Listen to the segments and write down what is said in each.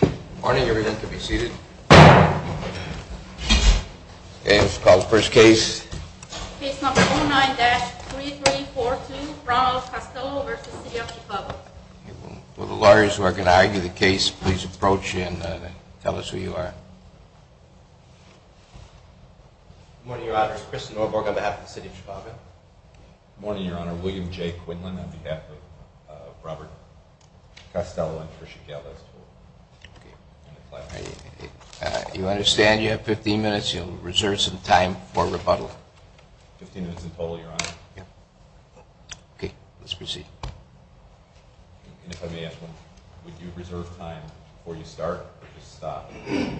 Good morning, everyone can be seated. Okay, let's call the first case. Case number 09-3342, Ronald Castello v. City of Chicago. Will the lawyers who are going to argue the case please approach and tell us who you are. Good morning, Your Honor. It's Chris Norberg on behalf of the City of Chicago. Good morning, Your Honor. William J. Quinlan on behalf of Robert Castello and Trisha Gallo. You understand you have 15 minutes? You'll reserve some time for rebuttal. 15 minutes in total, Your Honor. Okay, let's proceed. And if I may ask, would you reserve time before you start or just stop?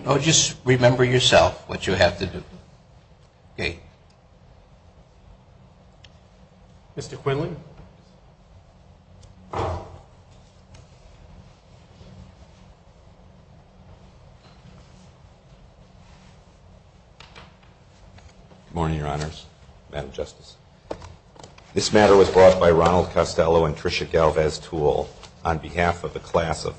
Oh, just remember yourself what you have to do. Okay. Mr. Quinlan. Good morning, Your Honors, Madam Justice. This matter was brought by Ronald Castello and Trisha Gallo as tool on behalf of the class of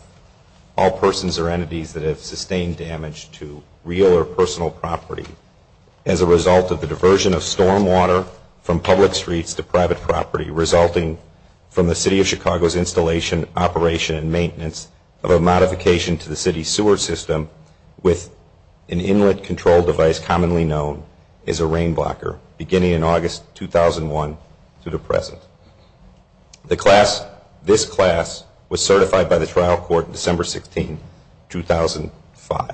all persons or entities that have sustained damage to real or personal property as a result of the diversion of storm water from public streets to private property resulting from the City of Chicago's installation, operation, and maintenance of a modification to the city's sewer system with an inlet control device commonly known as a rain blocker beginning in August 2001 to the present. The class, this class, was certified by the trial court December 16, 2005.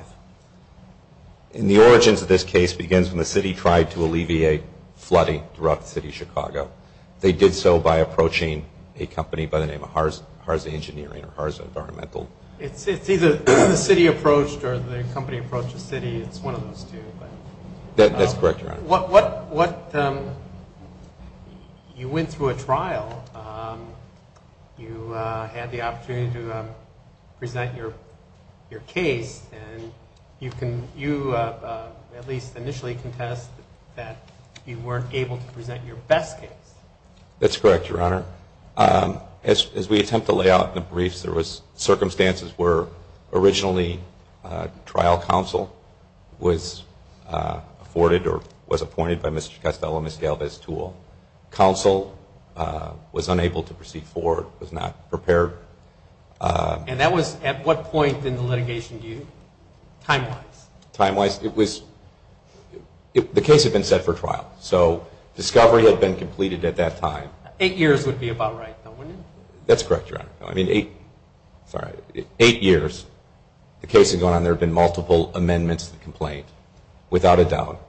And the origins of this case begins when the city tried to alleviate flooding throughout the City of Chicago. They did so by approaching a company by the name of Harza Engineering or Harza Environmental. It's either the city approached or the company approached the city. It's one of those two. That's correct, Your Honor. You went through a trial. You had the opportunity to present your case. And you at least initially contest that you weren't able to present your best case. That's correct, Your Honor. As we attempt to lay out in the briefs, there was circumstances where originally trial counsel was afforded or was appointed by Mr. Castello and Ms. Galvez to counsel, was unable to proceed forward, was not prepared. And that was at what point in the litigation due, time-wise? Time-wise, it was, the case had been set for trial. So discovery had been completed at that time. Eight years would be about right, though, wouldn't it? That's correct, Your Honor. I mean, eight years, the case had gone on. There had been multiple amendments to the complaint without a doubt.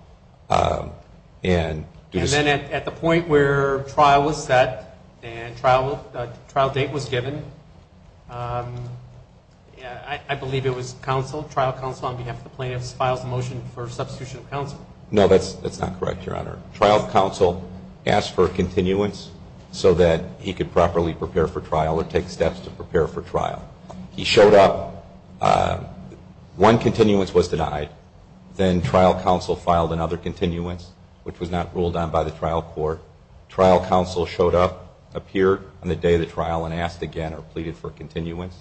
And then at the point where trial was set and trial date was given, I believe it was counsel, trial counsel on behalf of the plaintiffs files a motion for substitution of counsel. No, that's not correct, Your Honor. Trial counsel asked for a continuance so that he could properly prepare for trial or take steps to prepare for trial. He showed up. One continuance was denied. Then trial counsel filed another continuance, which was not ruled on by the trial court. Trial counsel showed up, appeared on the day of the trial and asked again or pleaded for a continuance.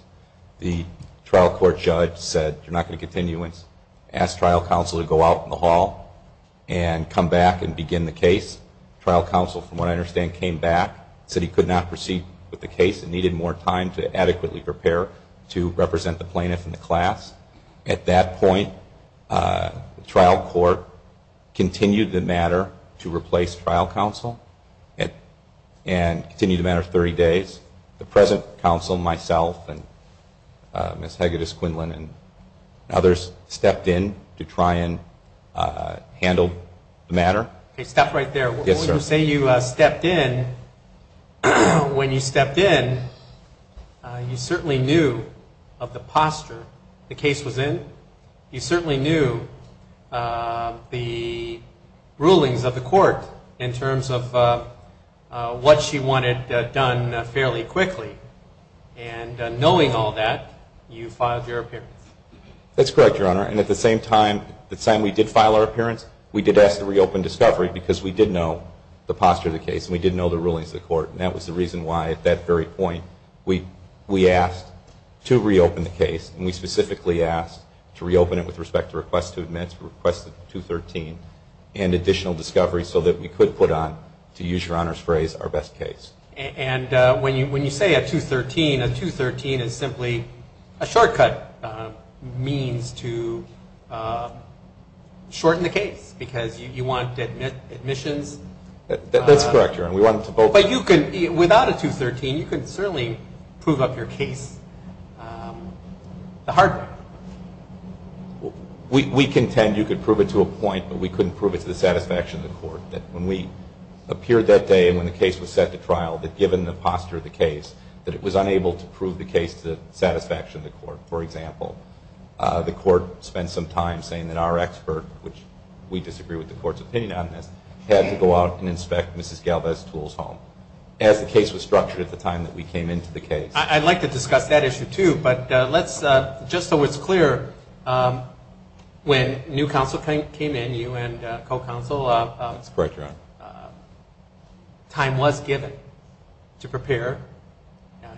The trial court judge said, you're not going to continuance. Asked trial counsel to go out in the hall and come back and begin the case. Trial counsel, from what I understand, came back, said he could not proceed with the case and needed more time to adequately prepare to represent the plaintiff and the class. At that point, the trial court continued the matter to replace trial counsel and continued the matter 30 days. The present counsel, myself and Ms. Hegedus-Quinlan and others stepped in to try and handle the matter. Okay, stop right there. Yes, sir. When you say you stepped in, when you stepped in, you certainly knew of the posture the case was in. You certainly knew the rulings of the court in terms of what she wanted done fairly quickly. And knowing all that, you filed your appearance. That's correct, Your Honor. And at the same time, the time we did file our appearance, we did ask to reopen discovery because we did know the posture of the case and we did know the rulings of the court. And that was the reason why, at that very point, we asked to reopen the case. And we specifically asked to reopen it with respect to requests to admit, requests to 213, and additional discovery so that we could put on, to use Your Honor's phrase, our best case. And when you say a 213, a 213 is simply a shortcut means to shorten the case because you want admissions. That's correct, Your Honor. But you could, without a 213, you could certainly prove up your case the hard way. We contend you could prove it to a point, but we couldn't prove it to the satisfaction of the court, that when we appeared that day and when the case was set to trial, that given the posture of the case, that it was unable to prove the case to the satisfaction of the court. For example, the court spent some time saying that our expert, which we disagree with the court's opinion on this, had to go out and inspect Mrs. Galvez-Tool's home, as the case was structured at the time that we came into the case. I'd like to discuss that issue, too, but let's, just so it's clear, when new counsel came in, you and co-counsel. That's correct, Your Honor. Time was given to prepare.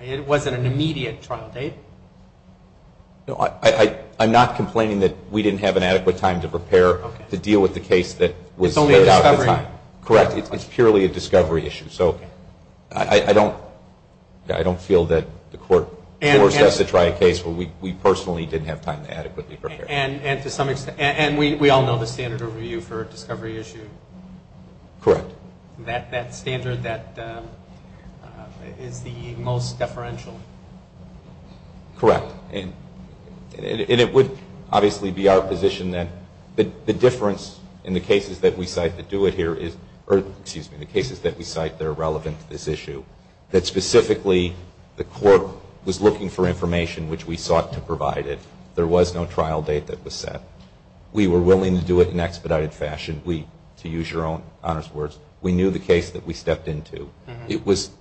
It wasn't an immediate trial date. No, I'm not complaining that we didn't have an adequate time to prepare to deal with the case that was laid out at the time. It's only a discovery. Correct. It's purely a discovery issue. So I don't feel that the court forced us to try a case where we personally didn't have time to adequately prepare. And to some extent, and we all know the standard overview for a discovery issue. Correct. That standard that is the most deferential. Correct. And it would obviously be our position that the difference in the cases that we cite that do it here is, or excuse me, the cases that we cite that are relevant to this issue, that specifically the court was looking for information which we sought to provide it. There was no trial date that was set. We were willing to do it in expedited fashion. To use Your Honor's words, we knew the case that we stepped into. It was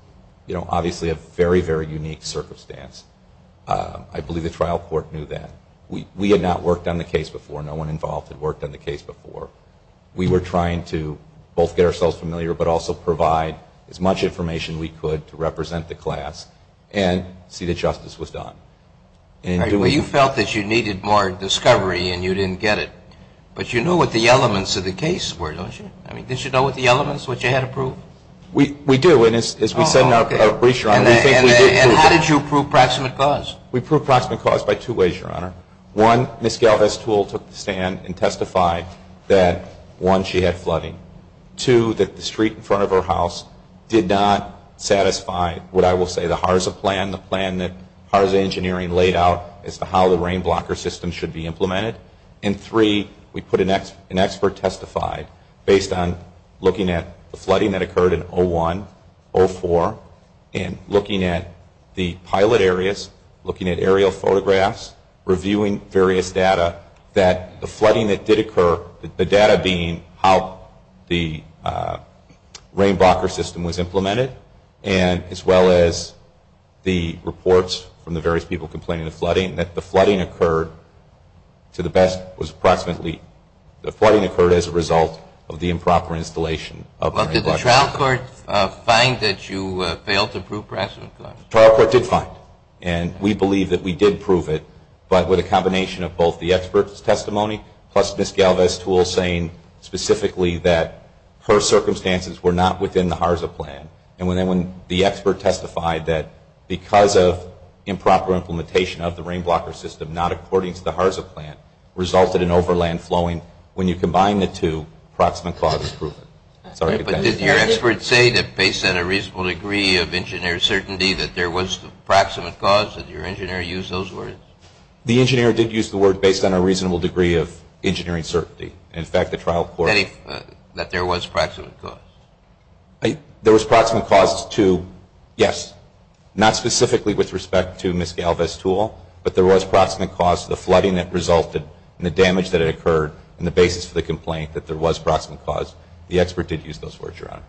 obviously a very, very unique circumstance. I believe the trial court knew that. We had not worked on the case before. No one involved had worked on the case before. We were trying to both get ourselves familiar, but also provide as much information we could to represent the class and see that justice was done. You felt that you needed more discovery and you didn't get it. But you knew what the elements of the case were, don't you? I mean, did you know what the elements, what you had to prove? We do. And as we said in our brief, Your Honor, we think we did prove that. And how did you prove proximate cause? We proved proximate cause by two ways, Your Honor. One, Ms. Galvez-Tool took the stand and testified that, one, she had flooding. Two, that the street in front of her house did not satisfy what I will say the HARSA plan, the plan that HARSA engineering laid out as to how the rain blocker system should be implemented. And three, we put an expert to testify based on looking at the flooding that occurred in 01, 04, and looking at the pilot areas, looking at aerial photographs, reviewing various data, that the flooding that did occur, the data being how the rain blocker system was implemented and as well as the reports from the various people complaining of flooding, that the flooding occurred to the best was approximately, the flooding occurred as a result of the improper installation of the rain blocker system. But did the trial court find that you failed to prove proximate cause? The trial court did find, and we believe that we did prove it, but with a combination of both the expert's testimony plus Ms. Galvez-Tool saying specifically that her circumstances were not within the HARSA plan. And when the expert testified that because of improper implementation of the rain blocker system, not according to the HARSA plan, resulted in overland flowing, when you combine the two, proximate cause is proven. But did your expert say that based on a reasonable degree of engineer certainty that there was proximate cause? Did your engineer use those words? The engineer did use the word based on a reasonable degree of engineering certainty. In fact, the trial court... That there was proximate cause. There was proximate cause to, yes, not specifically with respect to Ms. Galvez-Tool, but there was proximate cause to the flooding that resulted and the damage that occurred and the basis for the complaint that there was proximate cause. The expert did use those words, Your Honor.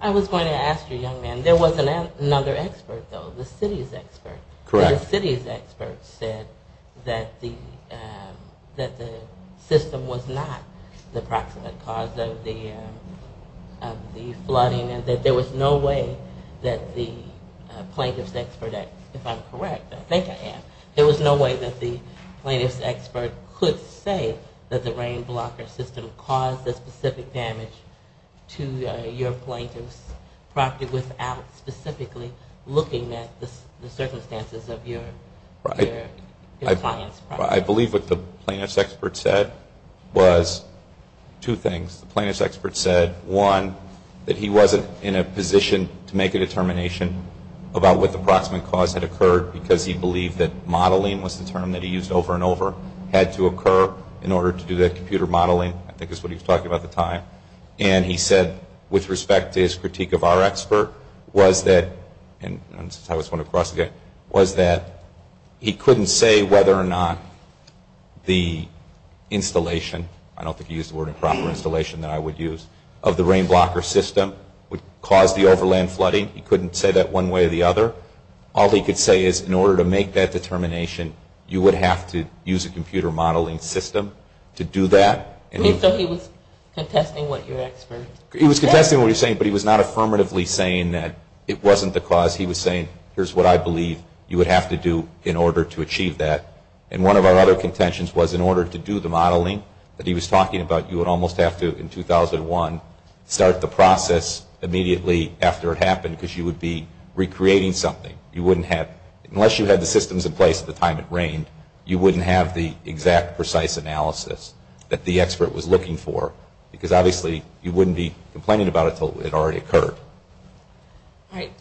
I was going to ask you, young man, there was another expert, though, the city's expert. Correct. The city's expert said that the system was not the proximate cause of the flooding and that there was no way that the plaintiff's expert, if I'm correct, I think I am, there was no way that the plaintiff's expert could say that the rain blocker system caused the specific damage to your plaintiff's property without specifically looking at the circumstances of your client's property. I believe what the plaintiff's expert said was two things. The plaintiff's expert said, one, that he wasn't in a position to make a determination about what the proximate cause had occurred because he believed that modeling was the term that he used over and over had to occur in order to do that computer modeling. I think that's what he was talking about at the time. And he said, with respect to his critique of our expert, was that, and I just want to cross again, was that he couldn't say whether or not the installation, I don't think he used the word improper installation that I would use, of the rain blocker system would cause the overland flooding. He couldn't say that one way or the other. All he could say is in order to make that determination, you would have to use a computer modeling system to do that. So he was contesting what your expert said? He was contesting what he was saying, but he was not affirmatively saying that it wasn't the cause. He was saying, here's what I believe you would have to do in order to achieve that. And one of our other contentions was in order to do the modeling that he was talking about, you would almost have to, in 2001, start the process immediately after it happened because you would be recreating something. You wouldn't have, unless you had the systems in place at the time it rained, you wouldn't have the exact precise analysis that the expert was looking for because obviously you wouldn't be complaining about it until it already occurred. All right.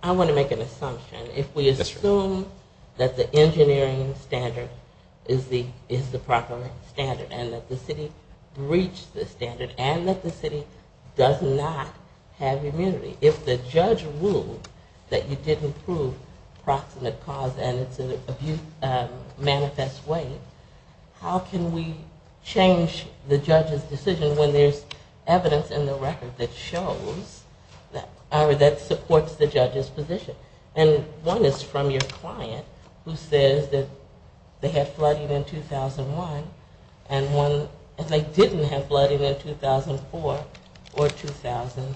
I want to make an assumption. If we assume that the engineering standard is the proper standard and that the city breached the standard and that the city does not have immunity, if the judge ruled that you didn't prove proximate cause and it's an abuse manifest way, how can we change the judge's decision when there's evidence in the record that shows, or that supports the judge's position? And one is from your client who says that they had flooding in 2001 and one is they didn't have flooding in 2004 or 2007.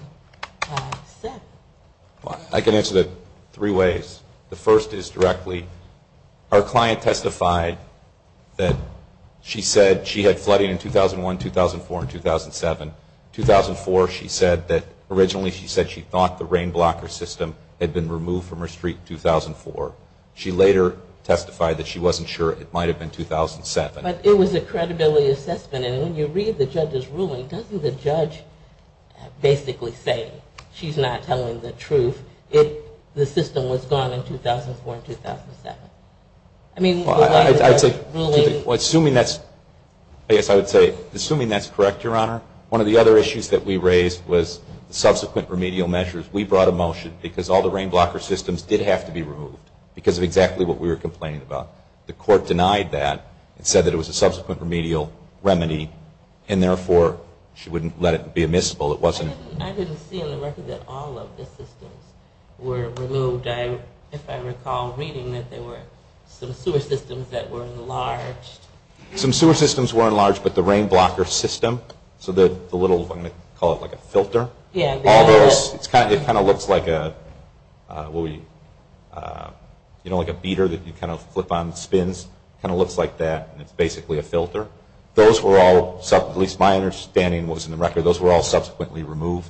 I can answer that three ways. The first is directly, our client testified that she said she had flooding in 2001, 2004, and 2007. 2004, she said that originally she said she thought the rain blocker system had been removed from her street in 2004. She later testified that she wasn't sure it might have been 2007. But it was a credibility assessment. And when you read the judge's ruling, doesn't the judge basically say she's not telling the truth if the system was gone in 2004 and 2007? Well, assuming that's correct, Your Honor, one of the other issues that we raised was subsequent remedial measures. We brought a motion because all the rain blocker systems did have to be removed because of exactly what we were complaining about. The court denied that and said that it was a subsequent remedial remedy and therefore she wouldn't let it be admissible. I didn't see on the record that all of the systems were removed. If I recall reading that there were some sewer systems that were enlarged. Some sewer systems were enlarged, but the rain blocker system, so the little, I'm going to call it like a filter, it kind of looks like a beater that you kind of flip on, spins, kind of looks like that and it's basically a filter. Those were all, at least my understanding was in the record, those were all subsequently removed.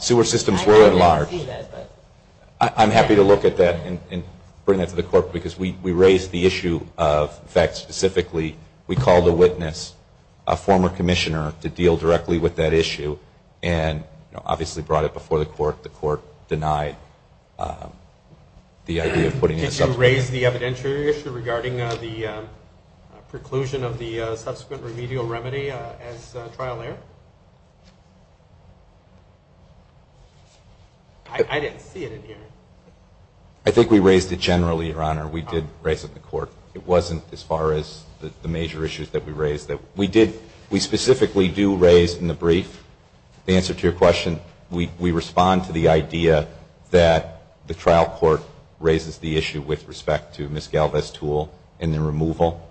Sewer systems were enlarged. I'm happy to look at that and bring that to the court because we raised the issue of, in fact, specifically we called a witness, a former commissioner, to deal directly with that issue and obviously brought it before the court. The court denied the idea of putting it. Did you raise the evidentiary issue regarding the preclusion of the subsequent remedial remedy as trial error? I didn't see it in here. I think we raised it generally, Your Honor. We did raise it in the court. It wasn't as far as the major issues that we raised. We specifically do raise in the brief, the answer to your question, we respond to the idea that the trial court raises the issue with respect to Ms. Galvez's tool and the removal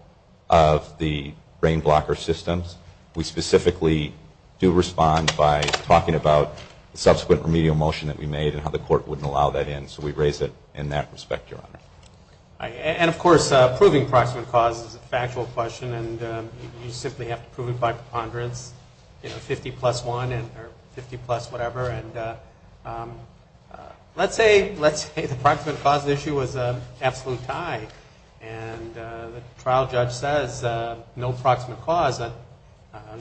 of the rain blocker systems. We specifically do respond by talking about the subsequent remedial motion that we made and how the court wouldn't allow that in. So we raise it in that respect, Your Honor. And, of course, proving proximate cause is a factual question, and you simply have to prove it by preponderance, 50 plus 1 or 50 plus whatever. Let's say the proximate cause issue was an absolute tie, and the trial judge says no proximate cause.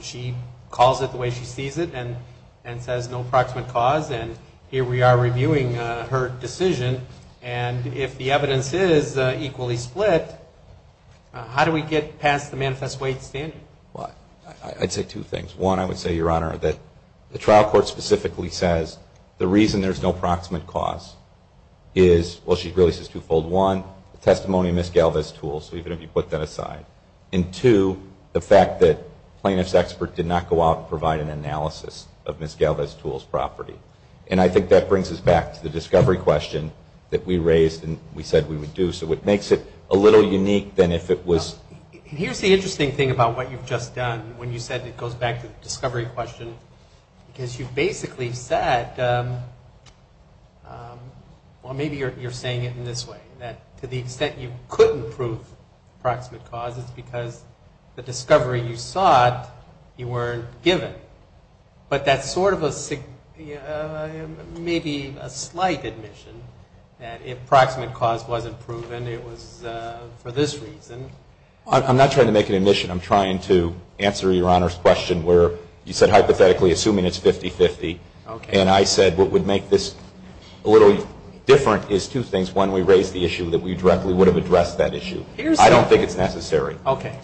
She calls it the way she sees it and says no proximate cause, and here we are reviewing her decision. And if the evidence is equally split, how do we get past the manifest way standard? I'd say two things. One, I would say, Your Honor, that the trial court specifically says the reason there's no proximate cause is, well, she really says twofold. One, the testimony of Ms. Galvez's tool, so even if you put that aside. And, two, the fact that plaintiff's expert did not go out and provide an analysis of Ms. Galvez's tool's property. And I think that brings us back to the discovery question that we raised and we said we would do. So it makes it a little unique than if it was. Here's the interesting thing about what you've just done when you said it goes back to the discovery question, because you basically said, well, maybe you're saying it in this way, that to the extent you couldn't prove proximate cause, it's because the discovery you sought, you weren't given. But that's sort of a maybe a slight admission that if proximate cause wasn't proven, it was for this reason. I'm not trying to make an admission. I'm trying to answer Your Honor's question where you said hypothetically assuming it's 50-50. And I said what would make this a little different is two things. One, we raised the issue that we directly would have addressed that issue. I don't think it's necessary. Okay.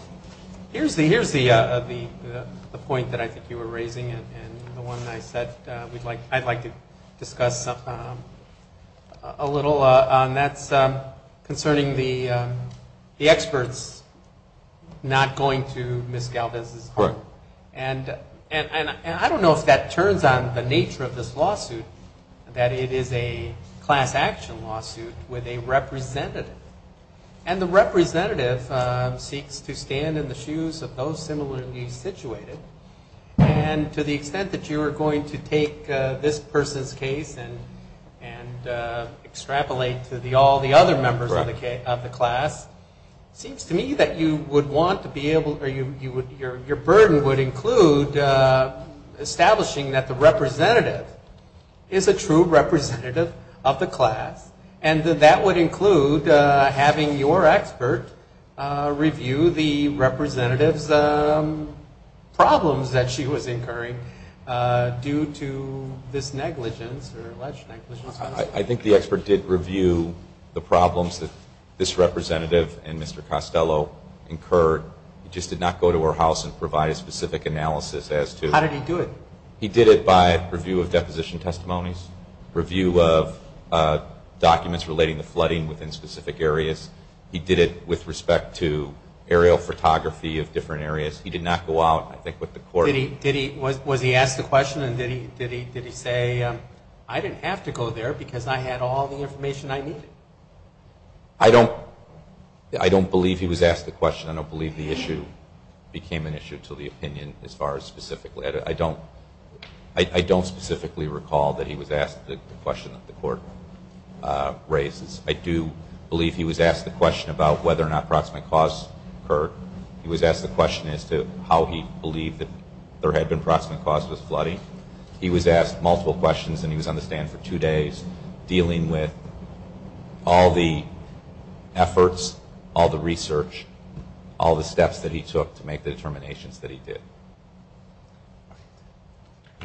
Here's the point that I think you were raising and the one I said I'd like to discuss a little. And that's concerning the experts not going to Ms. Galvez's home. Right. And I don't know if that turns on the nature of this lawsuit, that it is a class action lawsuit with a representative. And the representative seeks to stand in the shoes of those similarly situated. And to the extent that you are going to take this person's case and extrapolate to all the other members of the class, it seems to me that your burden would include establishing that the representative is a true representative of the class. And that would include having your expert review the representative's problems that she was incurring due to this negligence or alleged negligence. I think the expert did review the problems that this representative and Mr. Costello incurred. He just did not go to her house and provide a specific analysis as to. How did he do it? He did it by review of deposition testimonies, review of documents relating to flooding within specific areas. He did it with respect to aerial photography of different areas. He did not go out, I think, with the court. Was he asked a question and did he say, I didn't have to go there because I had all the information I needed? I don't believe he was asked the question. I don't believe the issue became an issue to the opinion as far as specifically. I don't specifically recall that he was asked the question that the court raises. I do believe he was asked the question about whether or not proximate cause occurred. He was asked the question as to how he believed that there had been proximate cause with flooding. He was asked multiple questions and he was on the stand for two days dealing with all the efforts, all the research, all the steps that he took to make the determinations that he did.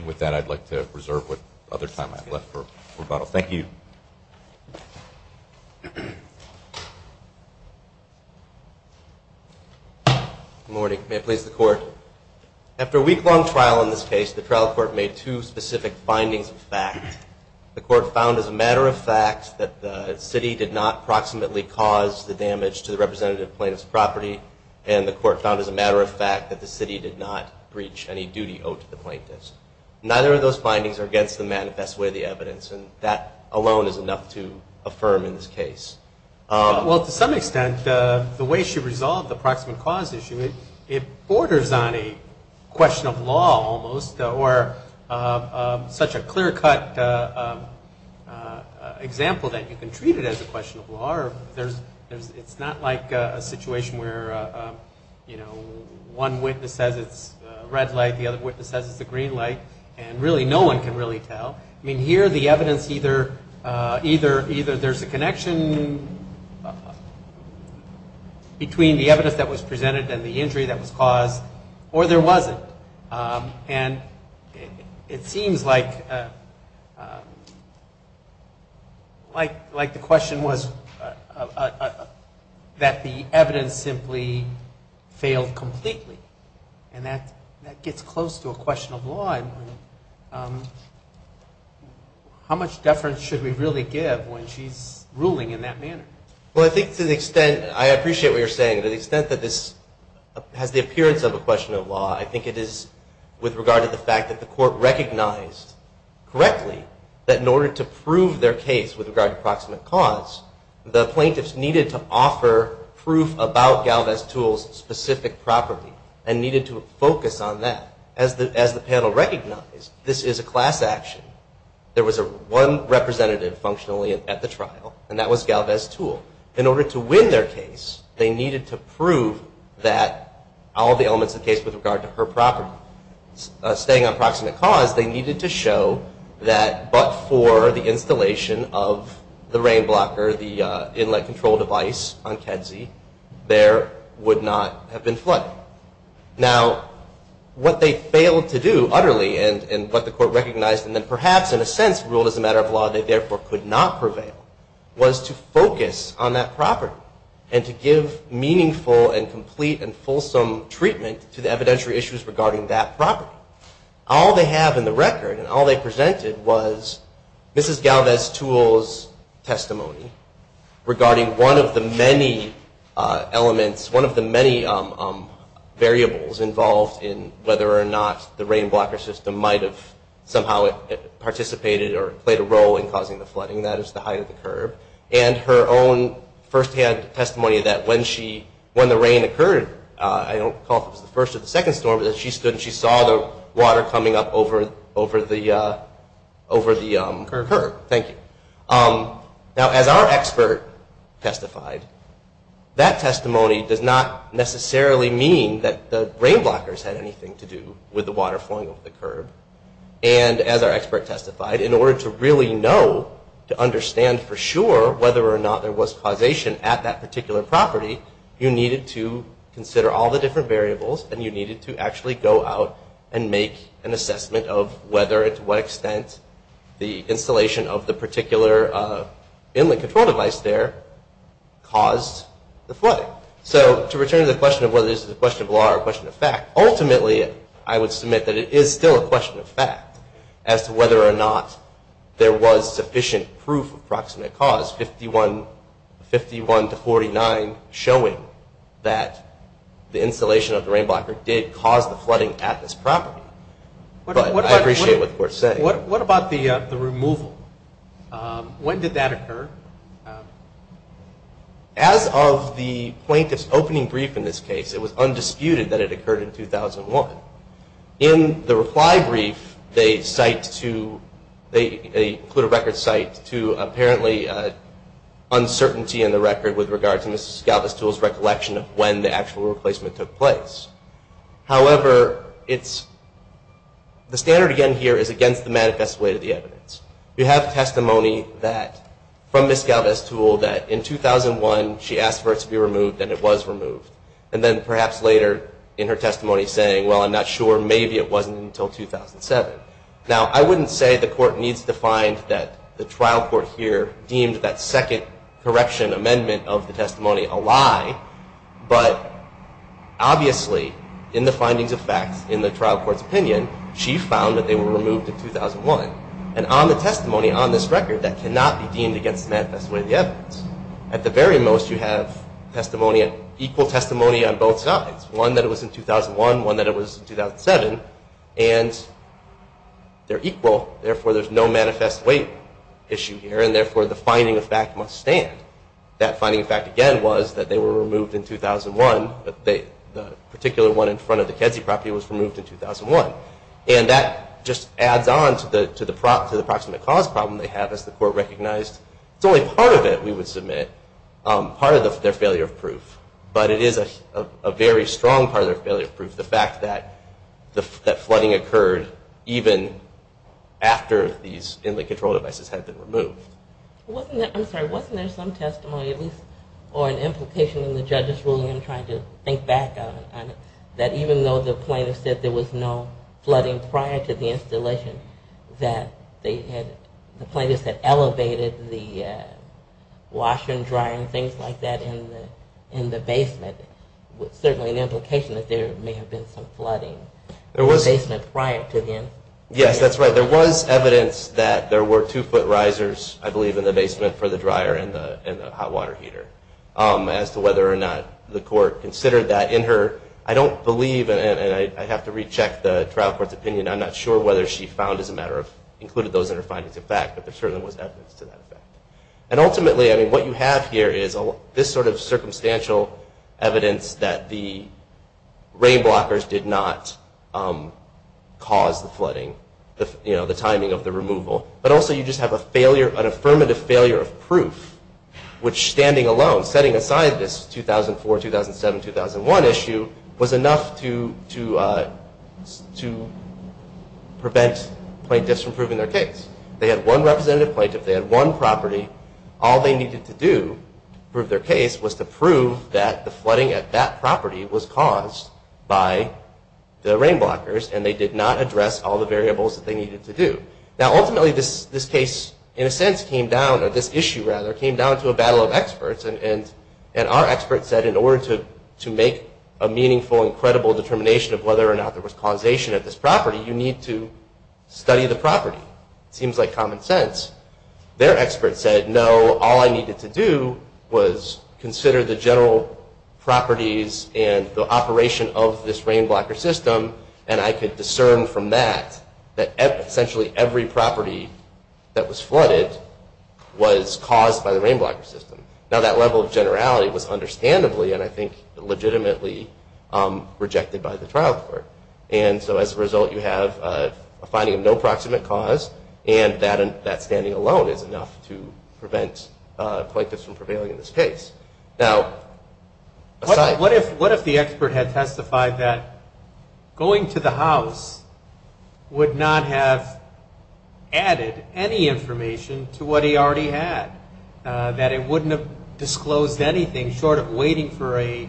With that, I'd like to reserve what other time I have left for rebuttal. Thank you. Good morning. May it please the Court. After a week-long trial in this case, the trial court made two specific findings of fact. The court found as a matter of fact that the city did not proximately cause the damage to the representative plaintiff's property and the court found as a matter of fact that the city did not breach any duty owed to the plaintiffs. Neither of those findings are against the manifest way of the evidence and that alone is enough to affirm in this case. Well, to some extent, the way she resolved the proximate cause issue, it borders on a question of law almost or such a clear-cut example that you can treat it as a question of law. It's not like a situation where, you know, one witness says it's a red light, the other witness says it's a green light, and really no one can really tell. I mean, here the evidence either there's a connection between the evidence that was presented and the injury that was caused or there wasn't. And it seems like the question was that the evidence simply failed completely, and that gets close to a question of law. How much deference should we really give when she's ruling in that manner? Well, I think to the extent, I appreciate what you're saying, to the extent that this has the appearance of a question of law, I think it is with regard to the fact that the court recognized correctly that in order to prove their case with regard to proximate cause, the plaintiffs needed to offer proof about Galvez Tools' specific property and needed to focus on that. As the panel recognized, this is a class action. There was one representative functionally at the trial, and that was Galvez Tool. In order to win their case, they needed to prove that all the elements of the case with regard to her property staying on proximate cause, they needed to show that but for the installation of the rain blocker, the inlet control device on Kedzie, there would not have been flooding. Now, what they failed to do utterly, and what the court recognized, and then perhaps in a sense ruled as a matter of law they therefore could not prevail, was to focus on that property and to give meaningful and complete and fulsome treatment to the evidentiary issues regarding that property. All they have in the record and all they presented was Mrs. Galvez Tools' testimony regarding one of the many elements, one of the many variables involved in whether or not the rain blocker system might have somehow participated or played a role in causing the flooding, and that is the height of the curb, and her own firsthand testimony that when the rain occurred, I don't recall if it was the first or the second storm, that she stood and she saw the water coming up over the curb. Now, as our expert testified, that testimony does not necessarily mean that the rain blockers had anything to do with the water flowing over the curb, and as our expert testified, in order to really know, to understand for sure whether or not there was causation at that particular property, you needed to consider all the different variables and you needed to actually go out and make an assessment of whether and to what extent the installation of the particular inlet control device there caused the flooding. So, to return to the question of whether this is a question of law or a question of fact, ultimately, I would submit that it is still a question of fact as to whether or not there was sufficient proof of proximate cause, 51 to 49, showing that the installation of the rain blocker did cause the flooding at this property. But I appreciate what the court is saying. What about the removal? When did that occur? As of the plaintiff's opening brief in this case, it was undisputed that it occurred in 2001. In the reply brief, they cite to, they put a record cite to apparently uncertainty in the record with regard to Ms. Galvestule's recollection of when the actual replacement took place. However, it's, the standard again here is against the manifest way to the evidence. You have testimony that, from Ms. Galvestule, that in 2001 she asked for it to be removed and it was removed, and then perhaps later in her testimony saying, well, I'm not sure, maybe it wasn't until 2007. Now, I wouldn't say the court needs to find that the trial court here deemed that second correction amendment of the testimony a lie, but obviously in the findings of facts in the trial court's opinion, she found that they were removed in 2001. And on the testimony on this record that cannot be deemed against the manifest way of the evidence, at the very most you have testimony, equal testimony on both sides. One that it was in 2001, one that it was in 2007, and they're equal, therefore there's no manifest way issue here, and therefore the finding of fact must stand. That finding of fact, again, was that they were removed in 2001, but the particular one in front of the Kedzie property was removed in 2001. And that just adds on to the approximate cause problem they have, as the court recognized it's only part of it, we would submit, part of their failure of proof. But it is a very strong part of their failure of proof, the fact that flooding occurred even after these inlaid control devices had been removed. I'm sorry, wasn't there some testimony, at least, or an implication in the judge's ruling, I'm trying to think back on it, that even though the plaintiff said there was no flooding prior to the installation, that the plaintiff said elevated the wash and dry and things like that in the basement, certainly an implication that there may have been some flooding in the basement prior to them. Yes, that's right, there was evidence that there were two foot risers, I believe, in the basement for the dryer and the hot water heater. As to whether or not the court considered that in her, I don't believe, and I have to recheck the trial court's opinion, I'm not sure whether she found as a matter of, included those in her findings of fact, but there certainly was evidence to that effect. And ultimately, what you have here is this sort of circumstantial evidence that the rain blockers did not cause the flooding, the timing of the removal, but also you just have a failure, an affirmative failure of proof, which standing alone, setting aside this 2004, 2007, 2001 issue, was enough to prevent plaintiffs from proving their case. They had one representative plaintiff, they had one property, all they needed to do to prove their case was to prove that the flooding at that property was caused by the rain blockers and they did not address all the variables that they needed to do. Now ultimately this case, in a sense, came down, or this issue rather, came down to a battle of experts and our experts said in order to make a meaningful and credible determination of whether or not there was causation at this property, you need to study the property. It seems like common sense. Their experts said no, all I needed to do was consider the general properties and the operation of this rain blocker system and I could discern from that, that essentially every property that was flooded was caused by the rain blocker system. Now that level of generality was understandably and I think legitimately rejected by the trial court. And so as a result you have a finding of no proximate cause and that standing alone is enough to prevent plaintiffs from prevailing in this case. Now aside... What if the expert had testified that going to the house would not have added any information to what he already had? That it wouldn't have disclosed anything short of waiting for a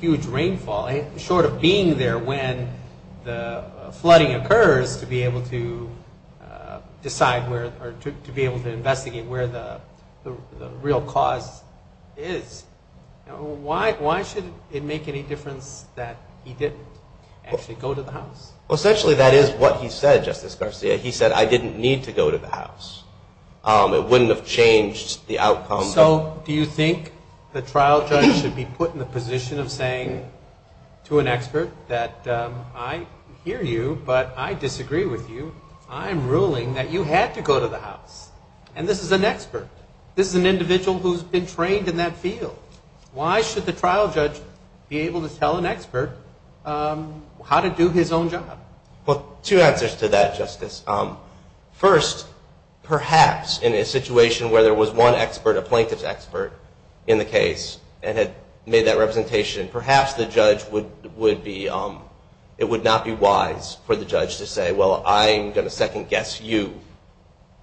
huge rainfall, short of being there when the flooding occurs to be able to decide where, or to be able to investigate where the real cause is. Why should it make any difference that he didn't actually go to the house? Essentially that is what he said, Justice Garcia. He said, I didn't need to go to the house. It wouldn't have changed the outcome. So do you think the trial judge should be put in the position of saying to an expert that I hear you, but I disagree with you. I'm ruling that you had to go to the house. And this is an expert. This is an individual who has been trained in that field. Why should the trial judge be able to tell an expert how to do his own job? Well, two answers to that, Justice. First, perhaps in a situation where there was one expert, a plaintiff's expert, in the case and had made that representation, perhaps it would not be wise for the judge to say, well, I'm going to second guess you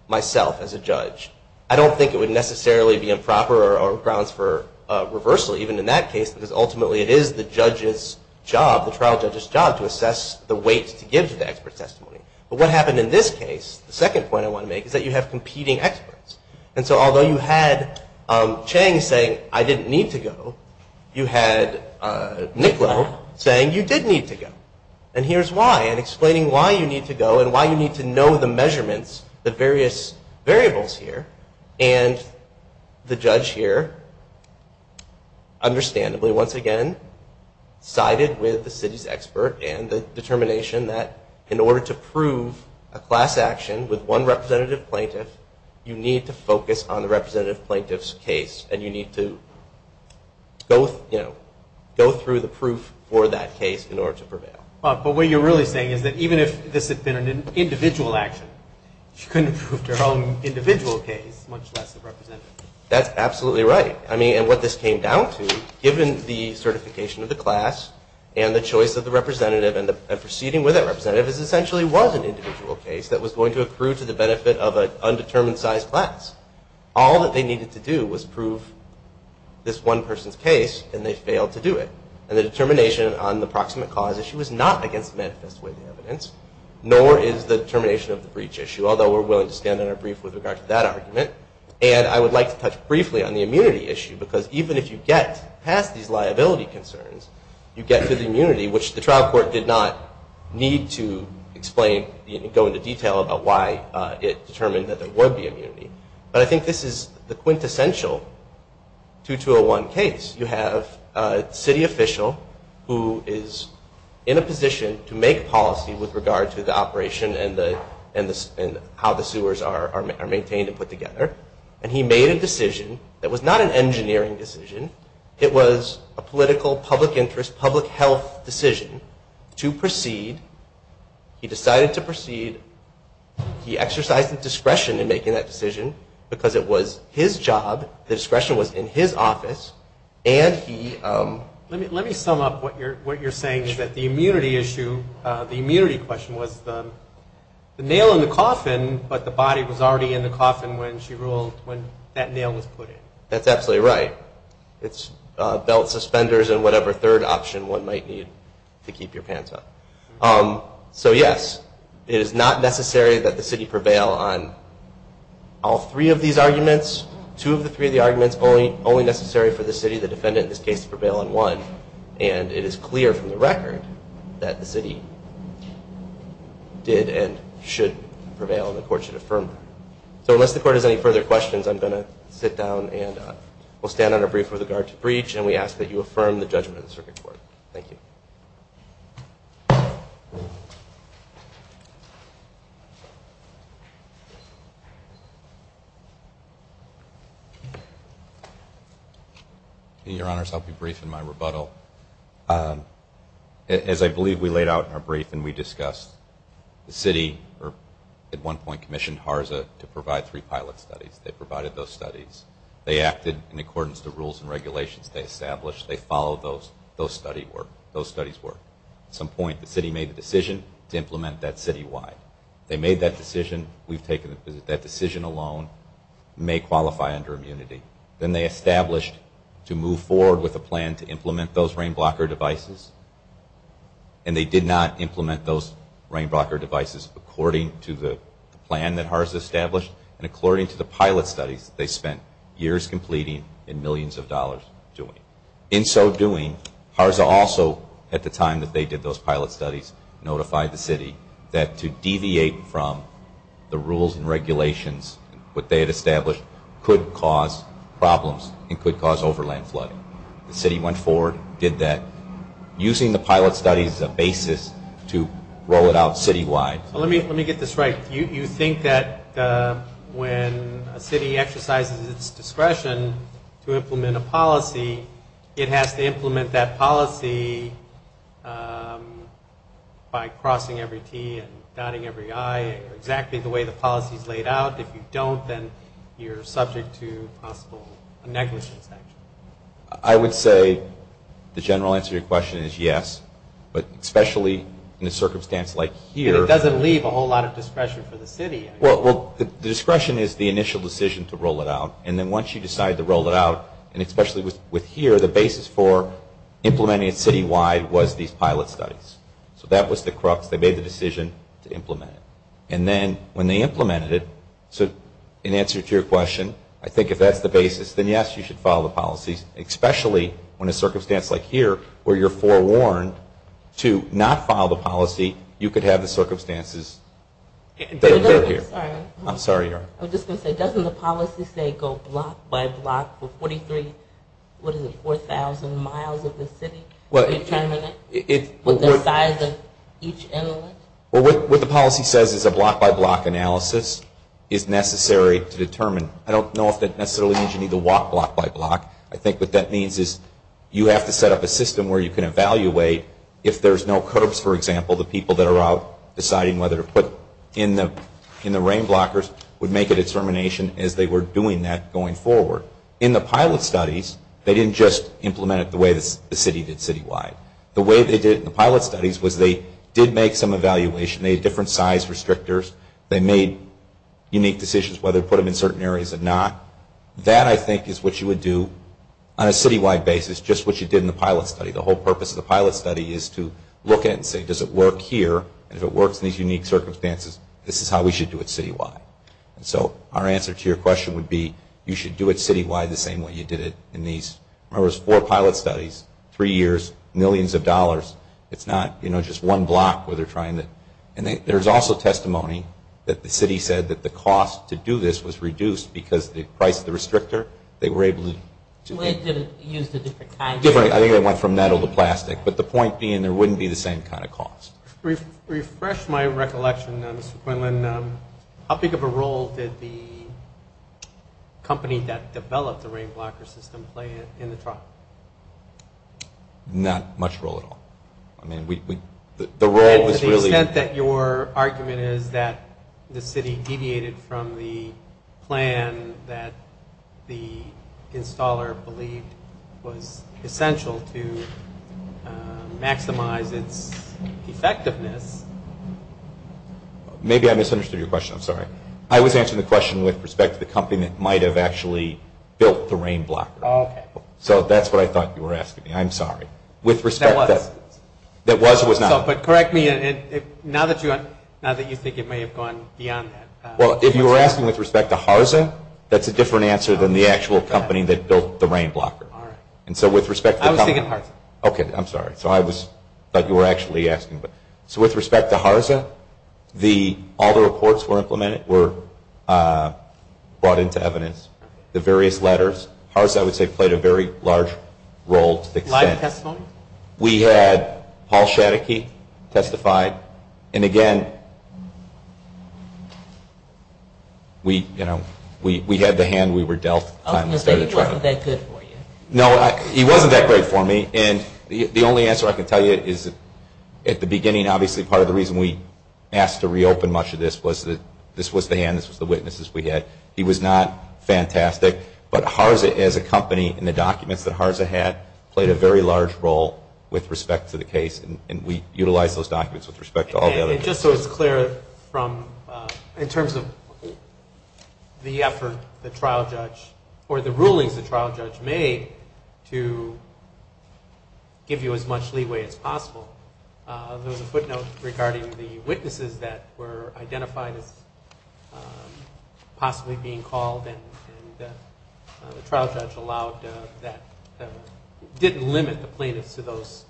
myself as a judge. I don't think it would necessarily be improper or grounds for reversal even in that case, because ultimately it is the trial judge's job to assess the weight to give to the expert's testimony. But what happened in this case, the second point I want to make, is that you have competing experts. And so although you had Chang saying, I didn't need to go, you had Nicolau saying you did need to go. And here's why. And explaining why you need to go and why you need to know the measurements, the various variables here, and the judge here, understandably, once again, sided with the city's expert and the determination that in order to prove a class action with one representative plaintiff, you need to focus on the representative plaintiff's case and you need to go through the proof for that case in order to prevail. But what you're really saying is that even if this had been an individual action, she couldn't have proved her own individual case, much less the representative. That's absolutely right. I mean, and what this came down to, given the certification of the class and the choice of the representative and proceeding with that representative, this essentially was an individual case that was going to accrue to the benefit of an undetermined size class. All that they needed to do was prove this one person's case and they failed to do it. And the determination on the proximate cause issue was not against the manifest way of the evidence, nor is the determination of the breach issue, although we're willing to stand on our brief with regard to that argument. And I would like to touch briefly on the immunity issue, because even if you get past these liability concerns, you get to the immunity, which the trial court did not need to explain, go into detail about why it determined that there would be immunity. But I think this is the quintessential 2201 case. You have a city official who is in a position to make policy with regard to the operation and how the sewers are maintained and put together. And he made a decision that was not an engineering decision. It was a political, public interest, public health decision to proceed. He decided to proceed. He exercised his discretion in making that decision because it was his job, the discretion was in his office, and he... Let me sum up what you're saying is that the immunity issue, the immunity question was the nail in the coffin, but the body was already in the coffin when she ruled, when that nail was put in. That's absolutely right. It's belt suspenders and whatever third option one might need to keep your pants on. So, yes, it is not necessary that the city prevail on all three of these arguments, two of the three of the arguments, only necessary for the city, the defendant, in this case, to prevail on one. And it is clear from the record that the city did and should prevail and the court should affirm them. So unless the court has any further questions, I'm going to sit down and we'll stand on our brief with regard to breach and we ask that you affirm the judgment of the circuit court. Thank you. Thank you. Your Honors, I'll be brief in my rebuttal. As I believe we laid out in our brief and we discussed, the city at one point commissioned HARSA to provide three pilot studies. They provided those studies. They acted in accordance to rules and regulations they established. They followed those study work, those studies work. At some point the city made the decision to implement that citywide. They made that decision. We've taken that decision alone. It may qualify under immunity. Then they established to move forward with a plan to implement those RainBlocker devices and they did not implement those RainBlocker devices according to the plan that HARSA established and according to the pilot studies they spent years completing and millions of dollars doing. In so doing, HARSA also at the time that they did those pilot studies notified the city that to deviate from the rules and regulations, what they had established, could cause problems and could cause overland flooding. The city went forward, did that, using the pilot studies as a basis to roll it out citywide. Let me get this right. You think that when a city exercises its discretion to implement a policy, it has to implement that policy by crossing every T and dotting every I, exactly the way the policy is laid out. If you don't, then you're subject to possible negligence action. I would say the general answer to your question is yes, but especially in a circumstance like here. But it doesn't leave a whole lot of discretion for the city. Well, the discretion is the initial decision to roll it out and then once you decide to roll it out, and especially with here, the basis for implementing it citywide was these pilot studies. So that was the crux. They made the decision to implement it. And then when they implemented it, in answer to your question, I think if that's the basis, then yes, you should follow the policies, especially in a circumstance like here where you're forewarned to not follow the policy, you could have the circumstances that occur here. Sorry. I'm sorry, Your Honor. I was just going to say, doesn't the policy say go block by block for 43,000 miles of the city? Determine it with the size of each inlet? What the policy says is a block by block analysis is necessary to determine. I don't know if that necessarily means you need to walk block by block. I think what that means is you have to set up a system where you can evaluate if there's no curbs, for example, the people that are out deciding whether to put in the rain blockers would make a determination as they were doing that going forward. In the pilot studies, they didn't just implement it the way the city did citywide. The way they did it in the pilot studies was they did make some evaluation. They had different size restrictors. They made unique decisions whether to put them in certain areas or not. That, I think, is what you would do on a citywide basis, just what you did in the pilot study. The whole purpose of the pilot study is to look at it and say, does it work here? If it works in these unique circumstances, this is how we should do it citywide. So our answer to your question would be you should do it citywide the same way you did it in these. In other words, four pilot studies, three years, millions of dollars. It's not just one block where they're trying to. There's also testimony that the city said that the cost to do this was reduced because they priced the restrictor. They were able to do it. I think it went from metal to plastic. But the point being there wouldn't be the same kind of cost. Refresh my recollection, Mr. Quinlan. How big of a role did the company that developed the rain blocker system play in the trial? Not much role at all. I mean, the role was really – that the city deviated from the plan that the installer believed was essential to maximize its effectiveness. Maybe I misunderstood your question. I'm sorry. I was answering the question with respect to the company that might have actually built the rain blocker. Okay. So that's what I thought you were asking me. I'm sorry. With respect to – That was. That was or was not? But correct me now that you think it may have gone beyond that. Well, if you were asking with respect to HARSA, that's a different answer than the actual company that built the rain blocker. All right. And so with respect to the company – I was thinking HARSA. Okay. I'm sorry. I thought you were actually asking. So with respect to HARSA, all the reports were implemented, were brought into evidence. The various letters. HARSA, I would say, played a very large role to the extent – Live testimony? We had Paul Schadeke testify. And, again, we had the hand we were dealt. I was going to say he wasn't that good for you. No, he wasn't that great for me. And the only answer I can tell you is at the beginning, obviously, part of the reason we asked to reopen much of this was that this was the hand, this was the witnesses we had. He was not fantastic. But HARSA, as a company, and the documents that HARSA had, played a very large role with respect to the case, and we utilized those documents with respect to all the others. And just so it's clear from – in terms of the effort the trial judge or the rulings the trial judge made to give you as much leeway as possible, there was a footnote regarding the witnesses that were identified as possibly being called and the trial judge allowed that – didn't limit the plaintiffs to those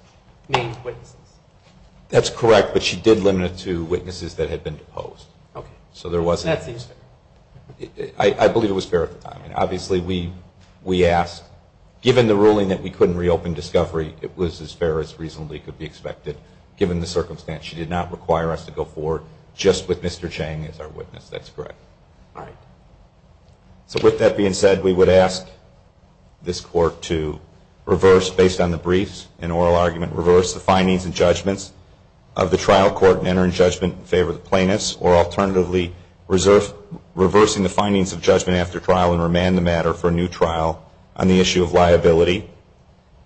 main witnesses. That's correct, but she did limit it to witnesses that had been deposed. Okay. So there wasn't – That seems fair. I believe it was fair at the time. Obviously, we asked – given the ruling that we couldn't reopen Discovery, it was as fair as reasonably could be expected, given the circumstance. She did not require us to go forward just with Mr. Chang as our witness. That's correct. All right. So with that being said, we would ask this Court to reverse, based on the briefs and oral argument, reverse the findings and judgments of the trial court in entering judgment in favor of the plaintiffs, or alternatively, reversing the findings of judgment after trial and remand the matter for a new trial on the issue of liability,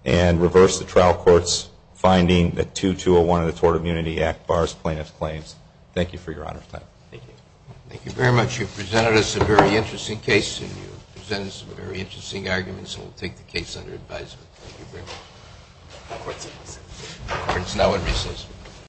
and reverse the trial court's finding that 2201 of the Tort Immunity Act bars plaintiffs' claims. Thank you for your honor's time. Thank you. Thank you very much. You've presented us a very interesting case and you've presented some very interesting arguments, so we'll take the case under advisement. Thank you very much. The Court's in recess. The Court's now in recess.